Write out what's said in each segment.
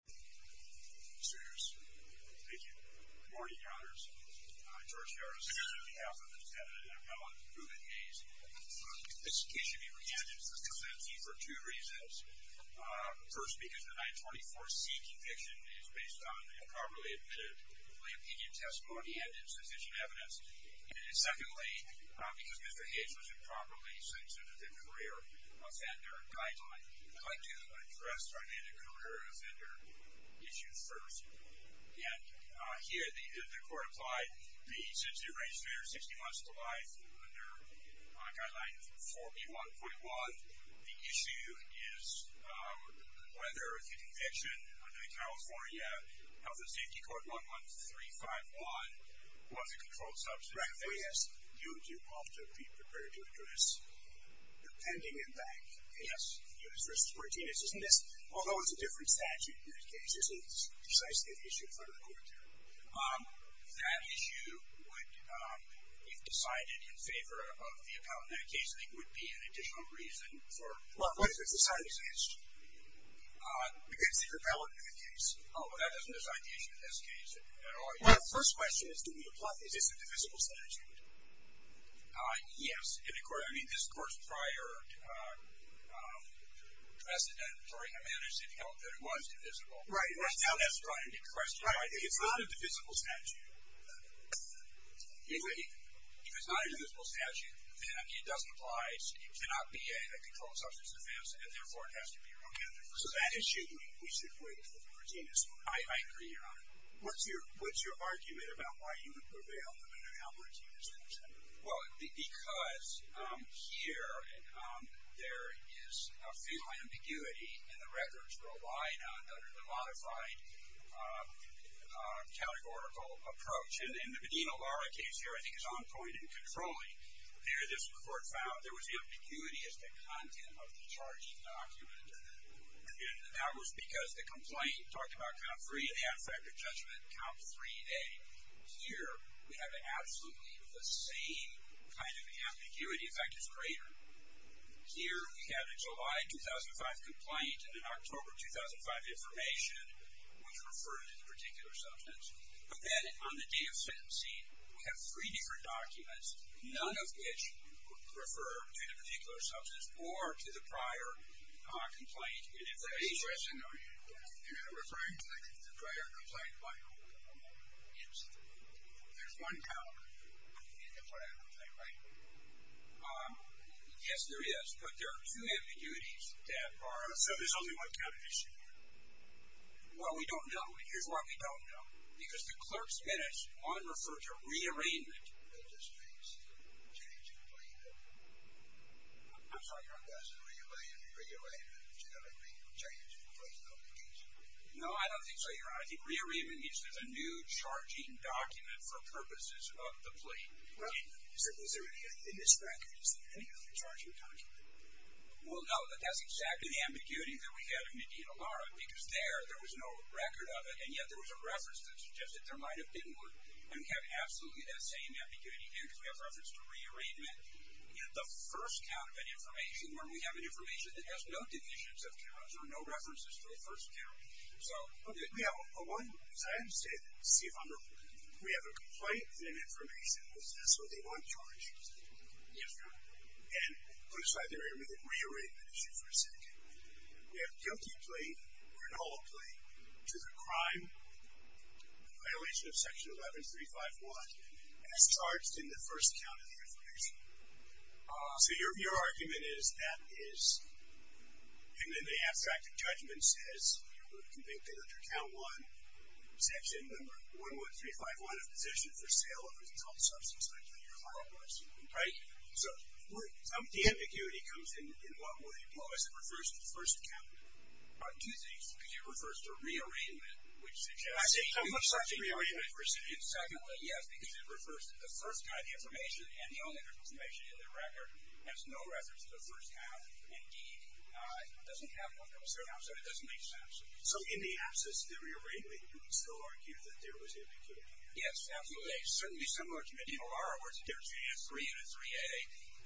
This case should be re-ended for two reasons. First, because the 924 C conviction is based on improperly admitted lay opinion testimony and insufficient evidence. And secondly, because Mr. Hayes was improperly sentenced as a career offender guideline. I'd like to address our career offender issue first. And here, the court applied the 60-day restrainer, 60 months to life under guideline 4B1.1. The issue is whether the conviction under the California Health and Safety Code 11351 was a controlled substance. Reuben Hayes Right. Oh yes. You do have to be prepared to address the pending impact. Yes. You know, it's versus Martinez, isn't it? Although it's a different statute in that case. It's precisely the issue in front of the court there. That issue would, if decided in favor of the appellant in that case, I think would be an additional reason for... Well, if it's decided against you. Because the appellant in that case... Oh, but that doesn't decide the issue in this case at all, does it? Well, the first question is, do we apply this? Is this a divisible statute? Yes. In the court, I mean, this court's prior precedent, sorry, had managed to tell that it was divisible. Right. Right. Now that's probably a good question. I think it's not a divisible statute. If it's not a divisible statute, then, I mean, it doesn't apply. It cannot be a controlled substance offense, and therefore, it has to be reoccurring. So that issue, we should wait for the Martinez one. I agree, Your Honor. What's your argument about why you would prevail in an appellate's use? Well, because here, there is a feeling of ambiguity in the records we're relying on under the modified categorical approach. And the Medina-Lara case here, I think, is on point in controlling. There, this court found there was ambiguity as to the content of the charged document. And that was because the complaint talked about count three and the advective judgment, count three and A. Here, we have absolutely the same kind of ambiguity. In fact, it's greater. Here, we have a July 2005 complaint, and in October 2005 information was referred to the particular substance. But then, on the day of sentencing, we have three different documents, none of which refer to the particular substance or to the prior complaint. And if they're addressed in a referring to the prior complaint file, there's one count. Yes, there is. But there are two ambiguities that are... So there's only one counted issue here? Well, we don't know. Here's why we don't know. Because the clerk's minutes on refer to rearrangement. It just means the change in the plaintiff. I'm sorry. Doesn't rearrangement generally mean change in the plaintiff's case? No, I don't think so, Your Honor. I think rearrangement means there's a new charging document for purposes of the plaintiff. Well, is there any in this record? Is there any other charging document? Well, no. But that's exactly the ambiguity that we had in Medina-Lara. Because there, there was no record of it. And yet, there was a reference that suggested there might have been and we have absolutely that same ambiguity here because we have reference to rearrangement in the first count of an information where we have an information that has no divisions of counts or no references to the first count. So... Okay. We have a one, because I understand, to see if I'm... We have a complaint and an information. Is this what they want charged? Yes, Your Honor. And put aside the rearrangement issue for a second. We have a guilty plea or an all plea to the crime violation of Section 11351 as charged in the first count of the information. So your argument is that is... And then the abstracted judgment says, you're going to convict under count one, section number 11351, a position for sale of a controlled substance, like what your client was. Right? So the ambiguity comes in, in what way? Well, it refers to the first count. On two things. Because it refers to rearrangement, which suggests... I say it's a rearrangement procedure. Secondly, yes, because it refers to the first count of the information and the only information in the record has no reference to the first count and, indeed, doesn't have one coming from the second count, so it doesn't make sense. So in the absence of the rearrangement, you can still argue that there was ambiguity here? Yes, absolutely. Certainly similar to Medina-Lara, where it's a difference between a 3 and a 3A.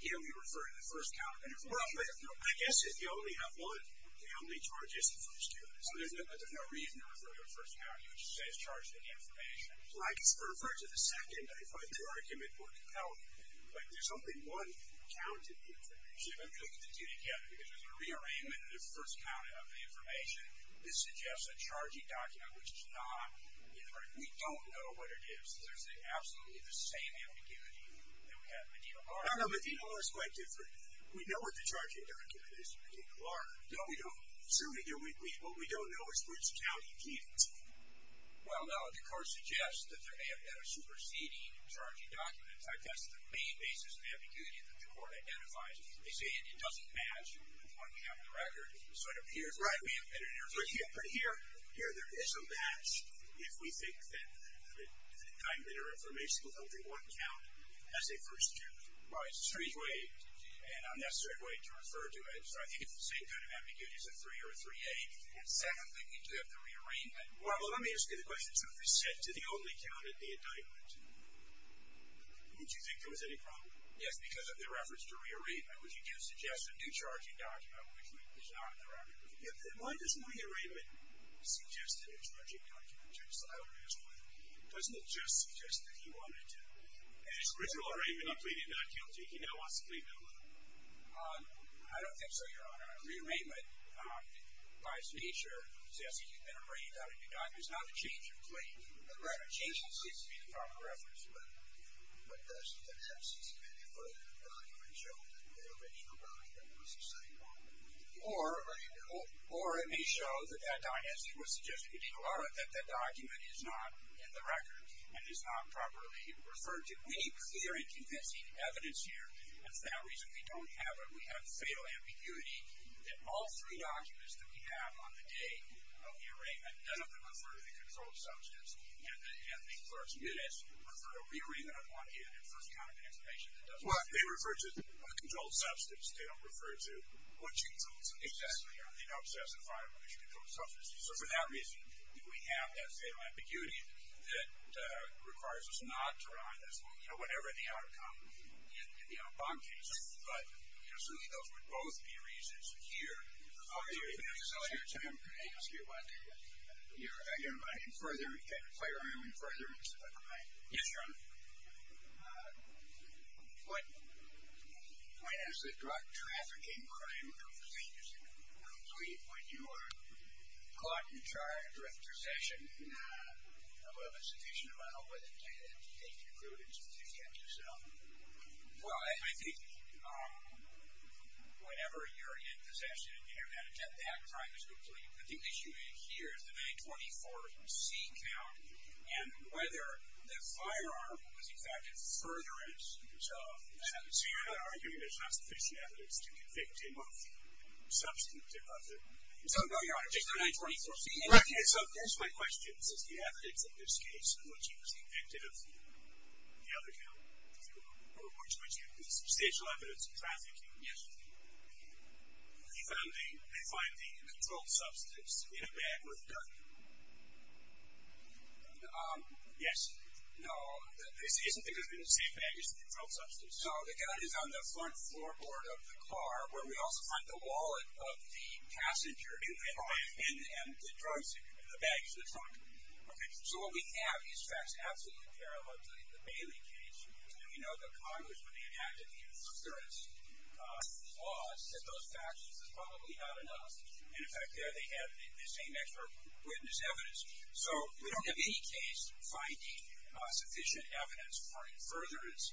Here, we refer to the first count of the information. Well, I guess if you only have one, it only charges the first unit. So there's no reason to refer to the first count. You would just say it's charged in the information. So I guess for referring to the second, I find your argument more compelling. Like there's only one count in the information. See, let me put the two together, because there's a rearrangement in the first count of the information that suggests a charging document, which is not in the record. We don't know what it is. There's absolutely the same ambiguity that we have in Medina-Lara. I don't know. Medina-Lara is quite different. We know what the charging document is in Medina-Lara. No, we don't. Certainly, what we don't know is which county did it. Well, no. The court suggests that there may have been a superseding in charging documents. I guess the main basis of ambiguity that the court identifies is they say it doesn't match with the one we have in the record. So it appears right. We have been in a rearrangement. But here, there is a match if we think that the time that our information was held in one count as a first count. Right. It's a strange way and unnecessary way to refer to it. So I think it's the same kind of ambiguity as a 3 or a 3A. And secondly, we do have the rearrangement. Well, let me ask you the question, too. If it's set to the only count at the indictment, would you think there was any problem? Yes, because of the reference to rearrangement. Would you suggest a new charging document, which is not in the record? If the one that's in the rearrangement suggested a charging document, just as I would ask whether, doesn't it just suggest that he wanted to? In his original arraignment, he pleaded not guilty. He now wants to plead not guilty. I don't think so, Your Honor. Rearrangement, by its nature, says that he's been arraigned out of the indictment. It's not a change of plea. Right. So a change of plea seems to be the proper reference. But does the FCC's committee further document show that the original document was the same? Or it may show that that document is not in the record and is not properly referred to. We need clear and convincing evidence here. And for that reason, we don't have it. We have fatal ambiguity that all three documents that we have on the date of the arraignment, none of them refer to the controlled substance. And the clerk's minutes refer to a rearrangement of one in and first count of an information that doesn't refer to the controlled substance. They don't refer to what you told us. Exactly. You know, the obsessive-compulsive control of substance. So for that reason, we have that fatal ambiguity that requires us not to arraign this, you know, whatever the outcome in the bond case. But, you know, certainly those would both be reasons here. I'll give you a chance to ask your question. You're inviting further firearm infringements, am I right? Yes, Your Honor. What point is there to a trafficking crime if the thing isn't complete? When you are caught and charged with possession of a sufficient amount of weapon data to take your prudence, but you can't do so? Well, I think whenever you're in possession and you're going to attempt that, crime is complete. I think the issue here is the 924C count and whether the firearm was in fact a furtherance. So you're arguing there's not sufficient evidence to convict him of substituting? No, Your Honor, just the 924C. Okay, so here's my question. This is the evidence in this case in which he was convicted of the other count, or in which he had substantial evidence of trafficking. Yes. He found the controlled substance in a bag with gun. Yes. No, it isn't because it was in a safe bag. It's the controlled substance. So the gun is on the front floorboard of the car, where we also find the wallet of the passenger in the bag, and the drugs in the bag is in the trunk. Okay. So what we have is facts absolutely parallel to the Bailey case, and we know that Congress, when they enacted the furtherance laws, said those facts, this is probably not enough. And in fact, there they had the same extra witness evidence. So we don't have any case finding sufficient evidence for furtherance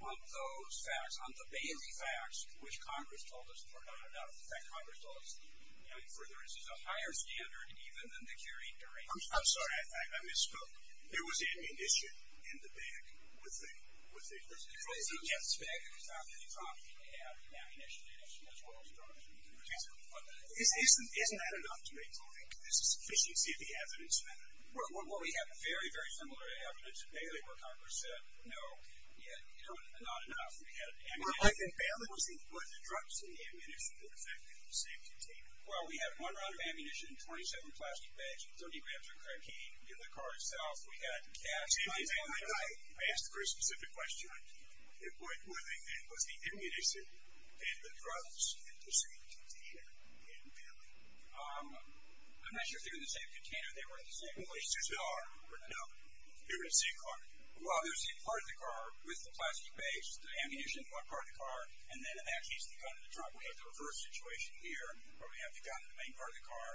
on those facts, on the Bailey facts, which Congress told us were not enough. In fact, Congress told us, you know, in furtherance is a higher standard even than the carrying durations. I'm sorry, I misspoke. There was ammunition in the bag with the controlled substance. Yes. In the bag at the top of the trunk, you may have ammunition in it, as well as drugs in the trunk. Isn't that enough to make you think there's a sufficiency of the evidence there? Well, we have very, very similar evidence to Bailey, where Congress said, no, you know, not enough. We had ammunition. Well, I think Bailey was the drugs in the ammunition that affected the safety tape. Well, we have one round of ammunition, 27 plastic bags, 30 grams of crankine in the car itself. We had gas in the ammunition. I asked a very specific question. What was the ammunition in the drugs in the same container in Bailey? I'm not sure if they were in the same container. They weren't in the same place. They are, but no. They were in the same car. Well, they were in the same part of the car with the plastic bags, the ammunition in one part of the car. And then in that case, the gun in the trunk. We have the reverse situation here, where we have the gun in the main part of the car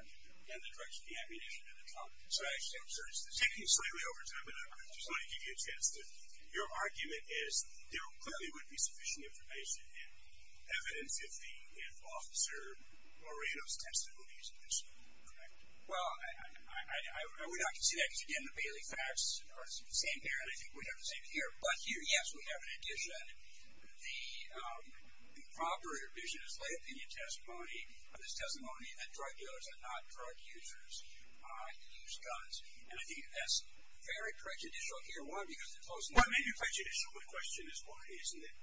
and the drugs in the ammunition in the trunk. So I actually observed this. Taking slightly over time, but I just want to give you a chance to, your argument is there clearly would be sufficient information and evidence if Officer Moreno's testimony is true, correct? Well, I would not consider that, because again, the Bailey facts are the same there, and I think we have the same here. But here, yes, we have an addition. The improper or visionless lay opinion testimony of this testimony that drug dealers are not drug users who use guns. And I think that's very prejudicial here. One, because it's most likely prejudicial. My question is, why isn't it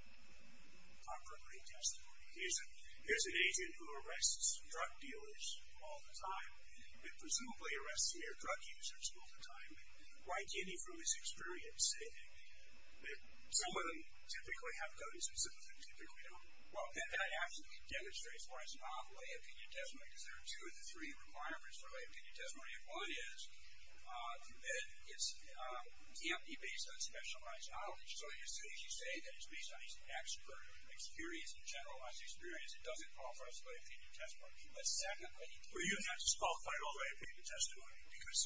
an appropriate testimony? Here's an agent who arrests drug dealers all the time, and presumably arrests mere drug users all the time. Why can't he, from his experience, say that some of them typically have guns and some of them typically don't? Well, and that absolutely demonstrates why it's not a lay opinion testimony, because there are two of the three requirements for lay opinion testimony. If one is that it's empty, based on specialized knowledge. So as you say, that it's based on expert experience and generalized experience, it doesn't qualify as a lay opinion testimony. But secondly, Were you not disqualified on lay opinion testimony? Because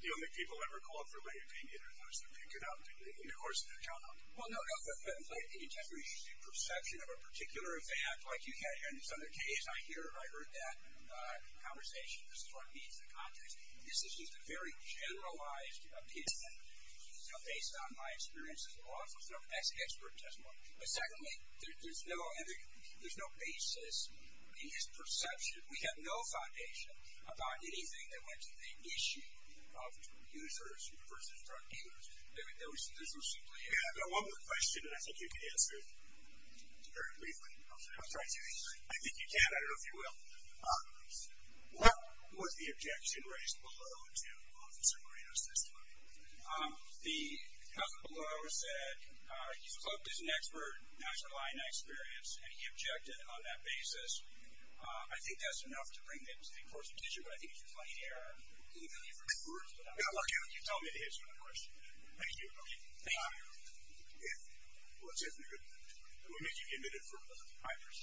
the only people that ever called for lay opinion are those that pick it up. And of course, they're counted. Well, no, no. If you have a lay opinion testimony, you should see a perception of a particular event, like you had here in this other case. I heard that in the conversation. This is what meets the context. This is just a very generalized opinion, based on my experience as a law firm. That's an expert testimony. But secondly, there's no basis in this perception. We have no foundation about anything that went to the issue of users versus drug dealers. This was simply a- Yeah, but one more question, and I think you can answer it very briefly. I'll try to. I think you can. I don't know if you will. What was the objection raised below to Officer Moreno's testimony? The comment below said he's clubbed as an expert, not your line of experience, and he objected on that basis. I think that's enough to bring the course of the issue. But I think if you're playing here- Can you tell me a few words? I'm not looking at you. Tell me the answer to that question. Thank you. Okay. Thank you. Well, it's definitely a good point. And we'll meet you in a minute for a moment. Hi, Chris.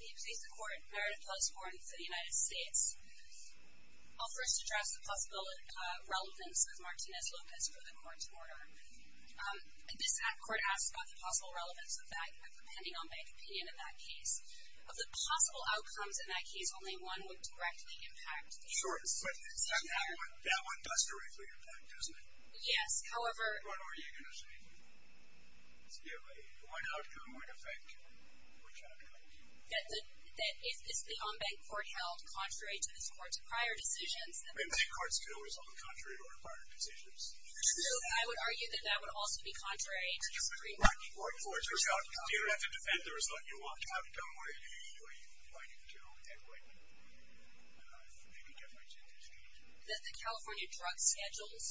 May it please the Court. Meredith Peltz-Horton for the United States. I'll first address the possible relevance of Martinez-Lopez for the Court's order. This act court asks about the possible relevance of bank- pending on-bank opinion in that case. Of the possible outcomes in that case, only one would directly impact the- Sure, but that one does directly impact, doesn't it? Yes. However- What are you going to say to that? Excuse me? The one outcome might affect which outcome? Is the on-bank court held contrary to this Court's prior decisions? I mean, bank cards can always be held contrary to our prior decisions. No, I would argue that that would also be contrary to the Supreme Court. Or in other words, you don't have to defend the result you want to have it done, or you can do what you want to do anyway. But maybe get my attention to the- That the California drug schedules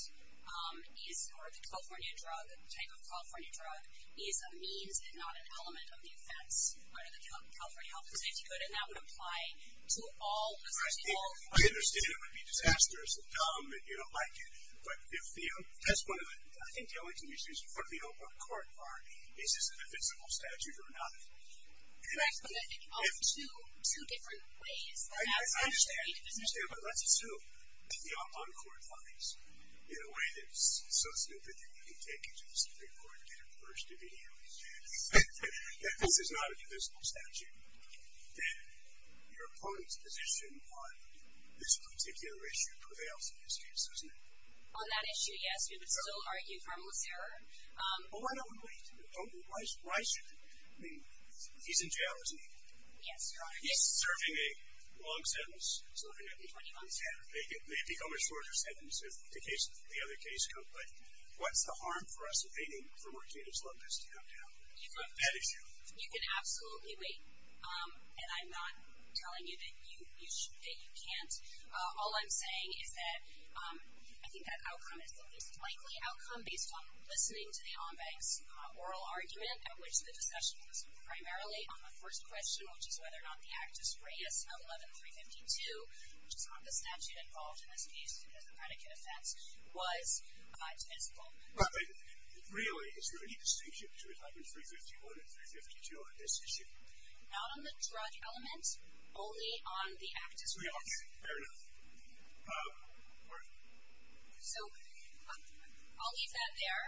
is, or the California drug, type of California drug, is a means and not an element of the offense under the California health and safety code. And that would apply to all- I understand it would be disastrous and dumb, and you don't like it. But if the testimony, I think the only thing you should use before the court is, is it a divisible statute or not a divisible statute? Correct, but in two different ways. I understand, but let's assume that the on-court finds, in a way that's so stupid that you need to take it to the Supreme Court and get it reversed immediately, that this is not a divisible statute, that your opponent's position on this particular issue prevails in this case, isn't it? On that issue, yes, we would still argue harmless error. But why don't we wait? Don't we? Why shouldn't we? I mean, he's in jail, isn't he? Yes, Your Honor. He's serving a long sentence. He's serving a 20-month sentence. They become a shorter sentence if the case, the other case comes, but what's the harm for us waiting for more cases like this to come down on that issue? You can absolutely wait. And I'm not telling you that you can't. All I'm saying is that I think that outcome is the least likely outcome based on listening to the ombudsman's oral argument, at which the discussion was primarily on the first question, which is whether or not the actus reus, 111.352, which is not the statute involved in this case because the predicate offense, was divisible. Really, is there any distinction between type 351 and 352 on this issue? Not on the drug element, only on the actus reus. Fair enough. Court. So I'll leave that there.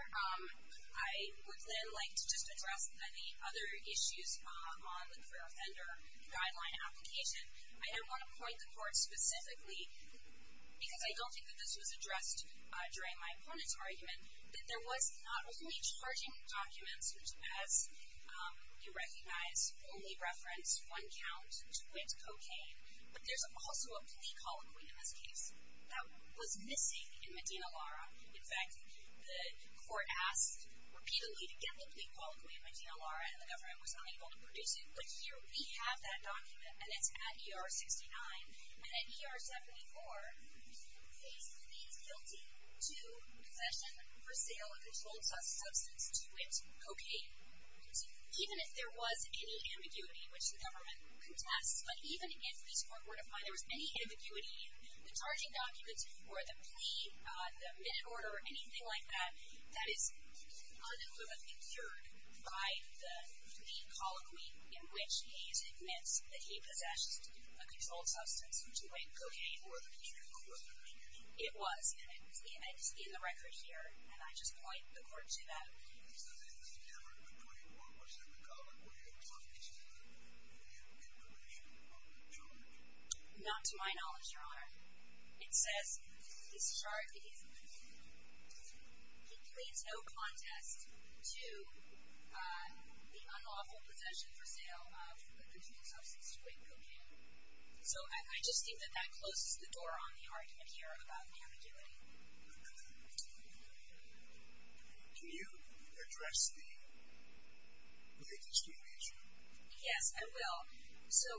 I would then like to just address the other issues on the career offender guideline application. I don't want to point the court specifically, because I don't think that this was addressed during my opponent's argument, that there was not only charging documents, which as you recognize, only reference one count, which points cocaine, but there's also a plea colloquy in this case that was missing in Medina Lara. In fact, the court asked repeatedly to get the plea colloquy in Medina Lara, and the government was unable to produce it. But here we have that document, and it's at ER 69, and at ER 74, faced the guilty to possession, for sale, of a controlled substance to it, cocaine. Even if there was any ambiguity, which the government contests, but even in this court order, there was any ambiguity in the charging documents, or the plea, the minute order, or anything like that, that is unequivocally cured by the plea colloquy, in which he is admits that he possessed a controlled substance to it, cocaine. Or the controlled substance. It was, and it's in the record here, and I just point the court to that. Is there a difference between what was in the colloquy, or something that you, in Medina, were able to determine? Not to my knowledge, your honor. It says, his charge is, he pleads no contest to the unlawful possession, for sale, of a controlled substance to it, cocaine. So I just think that that closes the door on the argument here about ambiguity. Okay. Can you address the latest case? Yes, I will. So,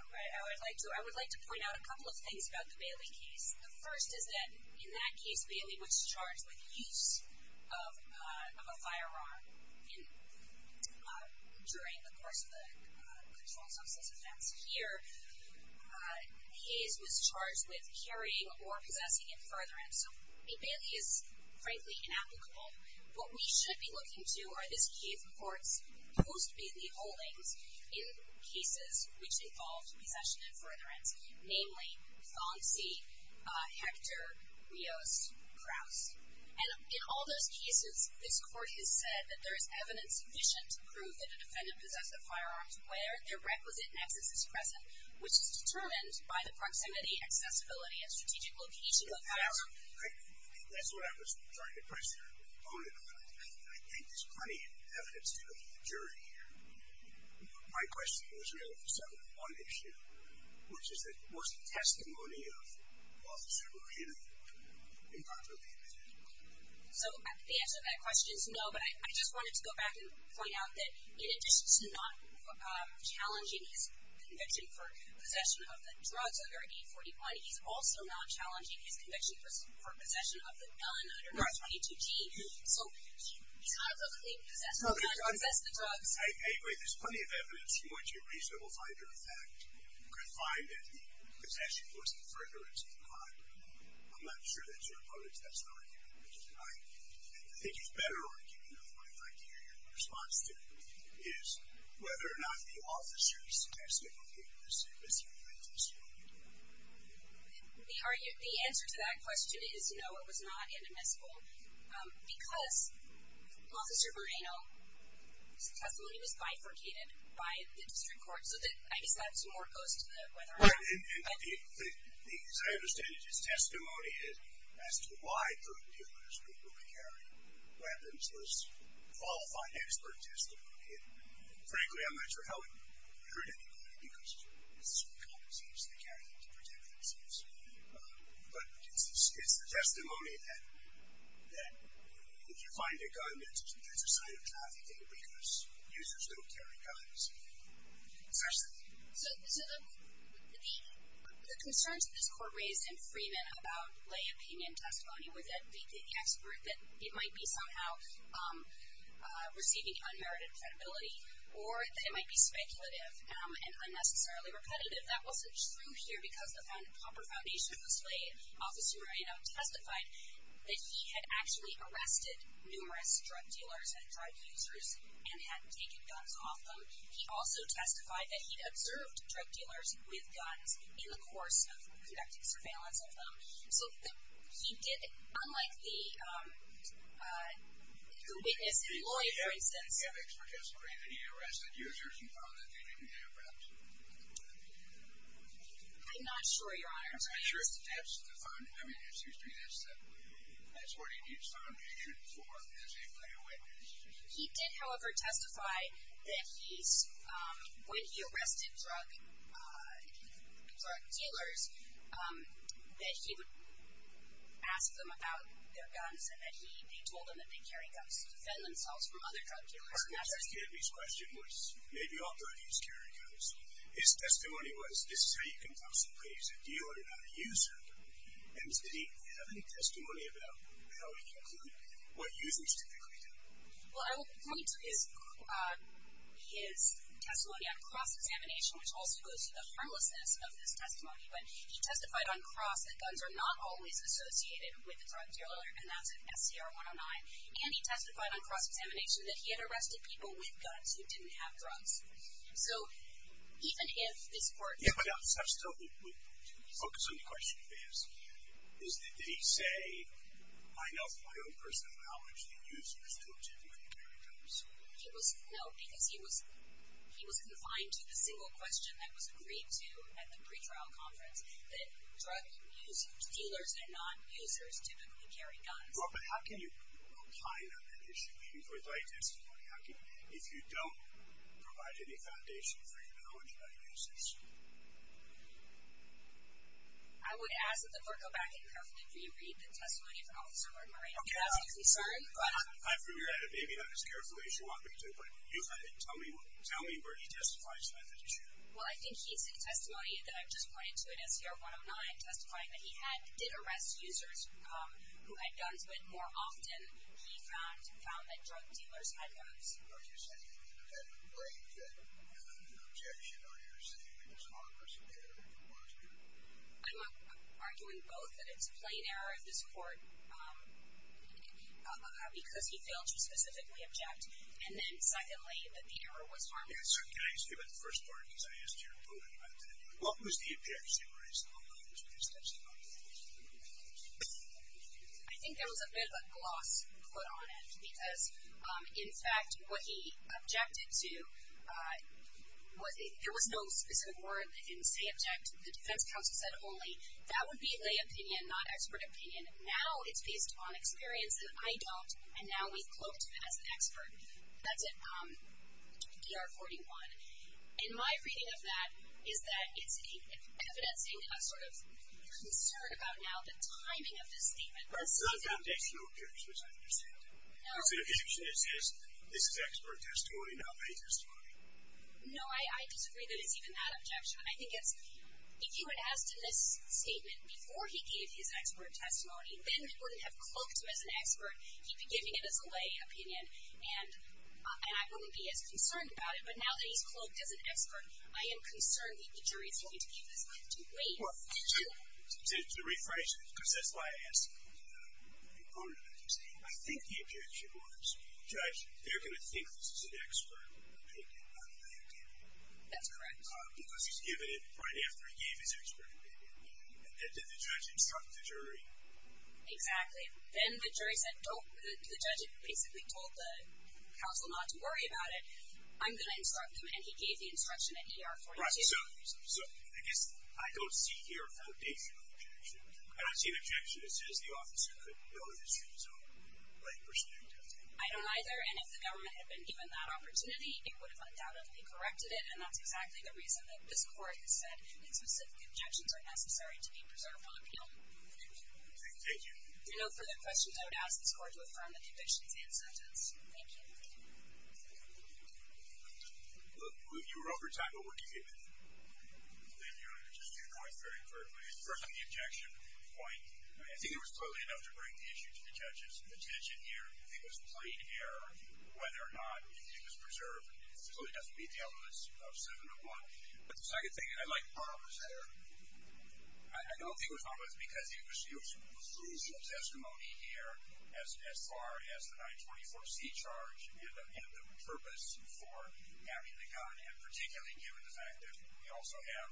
I would like to point out a couple of things about the Bailey case. The first is that, in that case, Bailey was charged with use of a firearm. During the course of the controlled substance offense here, Hayes was charged with carrying or possessing in furtherance. So, Bailey is, frankly, inapplicable. What we should be looking to are this case court's post-Bailey holdings, in cases which involved possession in furtherance. Namely, Fonzie, Hector, Rios, Kraus. And in all those cases, this court has said that there is evidence sufficient to prove that a defendant possessed the firearms where their requisite nexus is present. Which is determined by the proximity, accessibility, and strategic location of the firearm. Now, I think that's what I was trying to press your opponent on. I think there's plenty of evidence to the majority here. My question was really set on one issue, which is that was the testimony of Officer Rohani improperly admitted? So, the answer to that question is no. But I just wanted to go back and point out that, in addition to not challenging his conviction for possession of the drugs under 840-1, he's also not challenging his conviction for possession of the LN-122-T. So, he's not publicly possessed. He's not possessed the drugs. Anyway, there's plenty of evidence from which a reasonable finder of fact could find that the possession was in furtherance of the crime. I'm not sure that's your opponent's testimony here. I think it's better arguing that my criteria response to it is whether or not the officer's testimony was inadmissible. The answer to that question is no, it was not inadmissible. Because Officer Rohani's testimony was bifurcated by the district court. So, I guess that's more opposed to the whether or not. And the, as I understand it, his testimony as to why the dealers were willing to carry weapons was qualified expert testimony. And frankly, I'm not sure how it hurt anybody. Because it's the cop, it seems. They carry them to protect themselves. But it's the testimony that if you find a gun, that's a sign of trafficking. Because users don't carry guns. So, the concerns that this court raised in Freeman about lay opinion testimony was that the expert, that it might be somehow receiving unmerited credibility. Or that it might be speculative and unnecessarily repetitive. That wasn't true here because the proper foundation was laid. Officer Rohani testified that he had actually arrested numerous drug dealers and drug users and had taken guns off them. He also testified that he'd observed drug dealers with guns in the course of conducting surveillance of them. So, he did, unlike the witness and lawyer, for instance. Did he have any evidence for testimony that he arrested users and found that they didn't carry a weapon? I'm not sure, Your Honor. I'm not sure if that's the foundation. I mean, it seems to me that's what he found the evidence for as a clear witness. He did, however, testify that he's, when he arrested drug dealers, that he would ask them about their guns and that he told them that they carry guns to defend themselves from other drug dealers. The question that came to me was, maybe authorities carry guns. His testimony was, this is how you can possibly use a dealer, not a user. And did he have any testimony about how he concluded what users typically do? Well, I will point to his testimony on cross-examination, which also goes to the harmlessness of this testimony. But he testified on cross that guns are not always associated with a drug dealer, and that's in SCR 109. And he testified on cross-examination that he had arrested people with guns who didn't have drugs. So, even if this court- Yeah, but I would still focus on the question you've asked. Is that, did he say, I know from my own personal knowledge that users don't typically carry guns? He was, no, because he was confined to the single question that was agreed to at the pretrial conference, that drug dealers and non-users typically carry guns. Well, but how can you rely on that issue for your testimony if you don't provide any foundation for your knowledge about users? I would ask that the court go back and carefully re-read the testimony from Officer Lord-Murray if that's of concern. Okay, I'm sorry, but I've re-read it, maybe not as carefully as you want me to, but you had it. Tell me where he testifies to that issue. Well, I think he said testimony that I've just pointed to in SCR 109, testifying that he had, did arrest users who had guns, but more often he found that drug dealers had guns. Are you saying that that would break the objection or you're saying that it was harmless or that it was a mistake? I'm arguing both that it's a plain error of this court because he failed to specifically object, and then secondly, that the error was harmless. Yeah, so can I ask you about the first part, because I asked your opponent about that. What was the objection raised on those testimonies? I think there was a bit of a gloss put on it because, in fact, what he objected to, there was no specific word in say object, the defense counsel said only, that would be lay opinion, not expert opinion. Now it's based on experience, and I don't, and now we've cloaked him as an expert. That's in DR 41, and my reading of that is that it's evidencing a sort of concern about now the timing of this statement. But it's not an objection or objection, which I understand. No. It's an objection that says, this is expert testimony, not lay testimony. No, I disagree that it's even that objection, and I think it's, if you had asked in this statement before he gave his expert testimony, then we wouldn't have cloaked him as an expert. He'd be giving it as a lay opinion, and I wouldn't be as concerned about it, but now that he's cloaked as an expert, I am concerned that the jury is going to use this to weigh this. Well, to rephrase it, because that's why I asked, I think the objection was, judge, they're going to think this is an expert opinion, not a lay opinion. That's correct. Because he's given it right after he gave his expert opinion, and did the judge instruct the jury? Exactly. Then the jury said, don't, the judge basically told the counsel not to worry about it. I'm going to instruct them, and he gave the instruction at ER 42. So I guess I don't see here a foundational objection. I don't see an objection that says the officer couldn't build his own lay perspective. I don't either, and if the government had been given that opportunity, it would have undoubtedly corrected it, and that's exactly the reason that this court has said that specific objections are necessary to be preservable appeal. Thank you. If there are no further questions, I would ask this court to affirm that the objection is in sentence. Thank you. Look, you were over time, but we're good. Thank you. Just two points very quickly. First, on the objection point, I think it was clearly enough to bring the issue to the judge's attention here. I think it was plain error whether or not the opinion was preserved. It clearly doesn't meet the elements of 701. But the second thing, I like Barber's error. I don't think it was Barber's, because there was some testimony here as far as the 924C charge and the purpose for having the gun, and particularly given the fact that we also have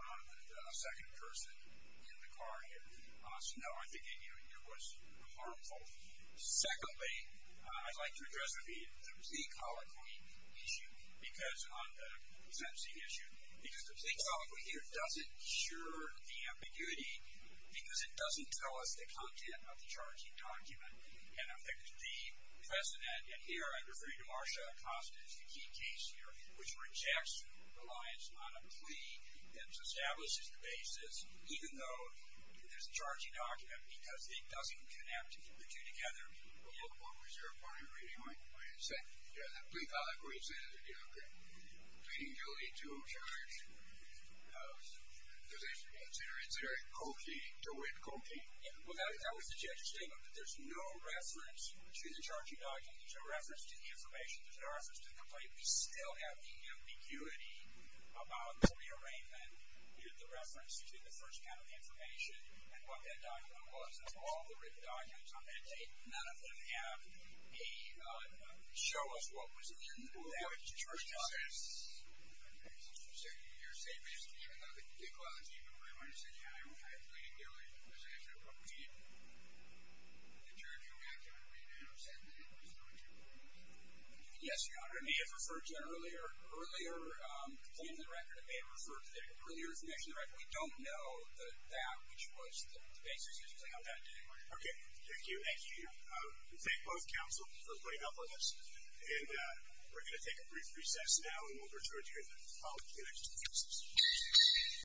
a second person in the car here. So no, I think it was harmful. Secondly, I'd like to address the plea colloquy issue because on the sentencing issue, because the plea colloquy here doesn't cure the ambiguity because it doesn't tell us the content of the charging document. And I think the precedent, and here I'm referring to Marcia Acosta as the key case here, which rejects reliance on a plea that establishes the basis, even though there's a charging document, because it doesn't connect the two together. Well, what was your point of reading when you said, yeah, the plea colloquy incentive is a deal breaker. Pleading guilty to a charge, does it consider it coquetting to win coquetting? Well, that was the judge's statement, that there's no reference to the charging document, there's no reference to the information, there's no reference to the complaint. We still have the ambiguity about the rearrangement, the reference, excuse me, the first kind of information, and what that document was. That's all the written documents on that date. None of them have a, show us what was in that charge document. Well, what you're saying is, even though the plea colloquy, you were referring to saying, yeah, I will try pleading guilty to possession of coquetting, the charge on that document may not have said that it was going to coquetting. Yes, Your Honor, it may have referred to an earlier complaint to the record. It may have referred to an earlier information to the record. We don't know that, which was the basis of the complaint on that date. Okay, thank you. Thank you. Thank both counsel for putting up with us, and we're going to take a brief recess now, and we'll return to you in the following two minutes for questions.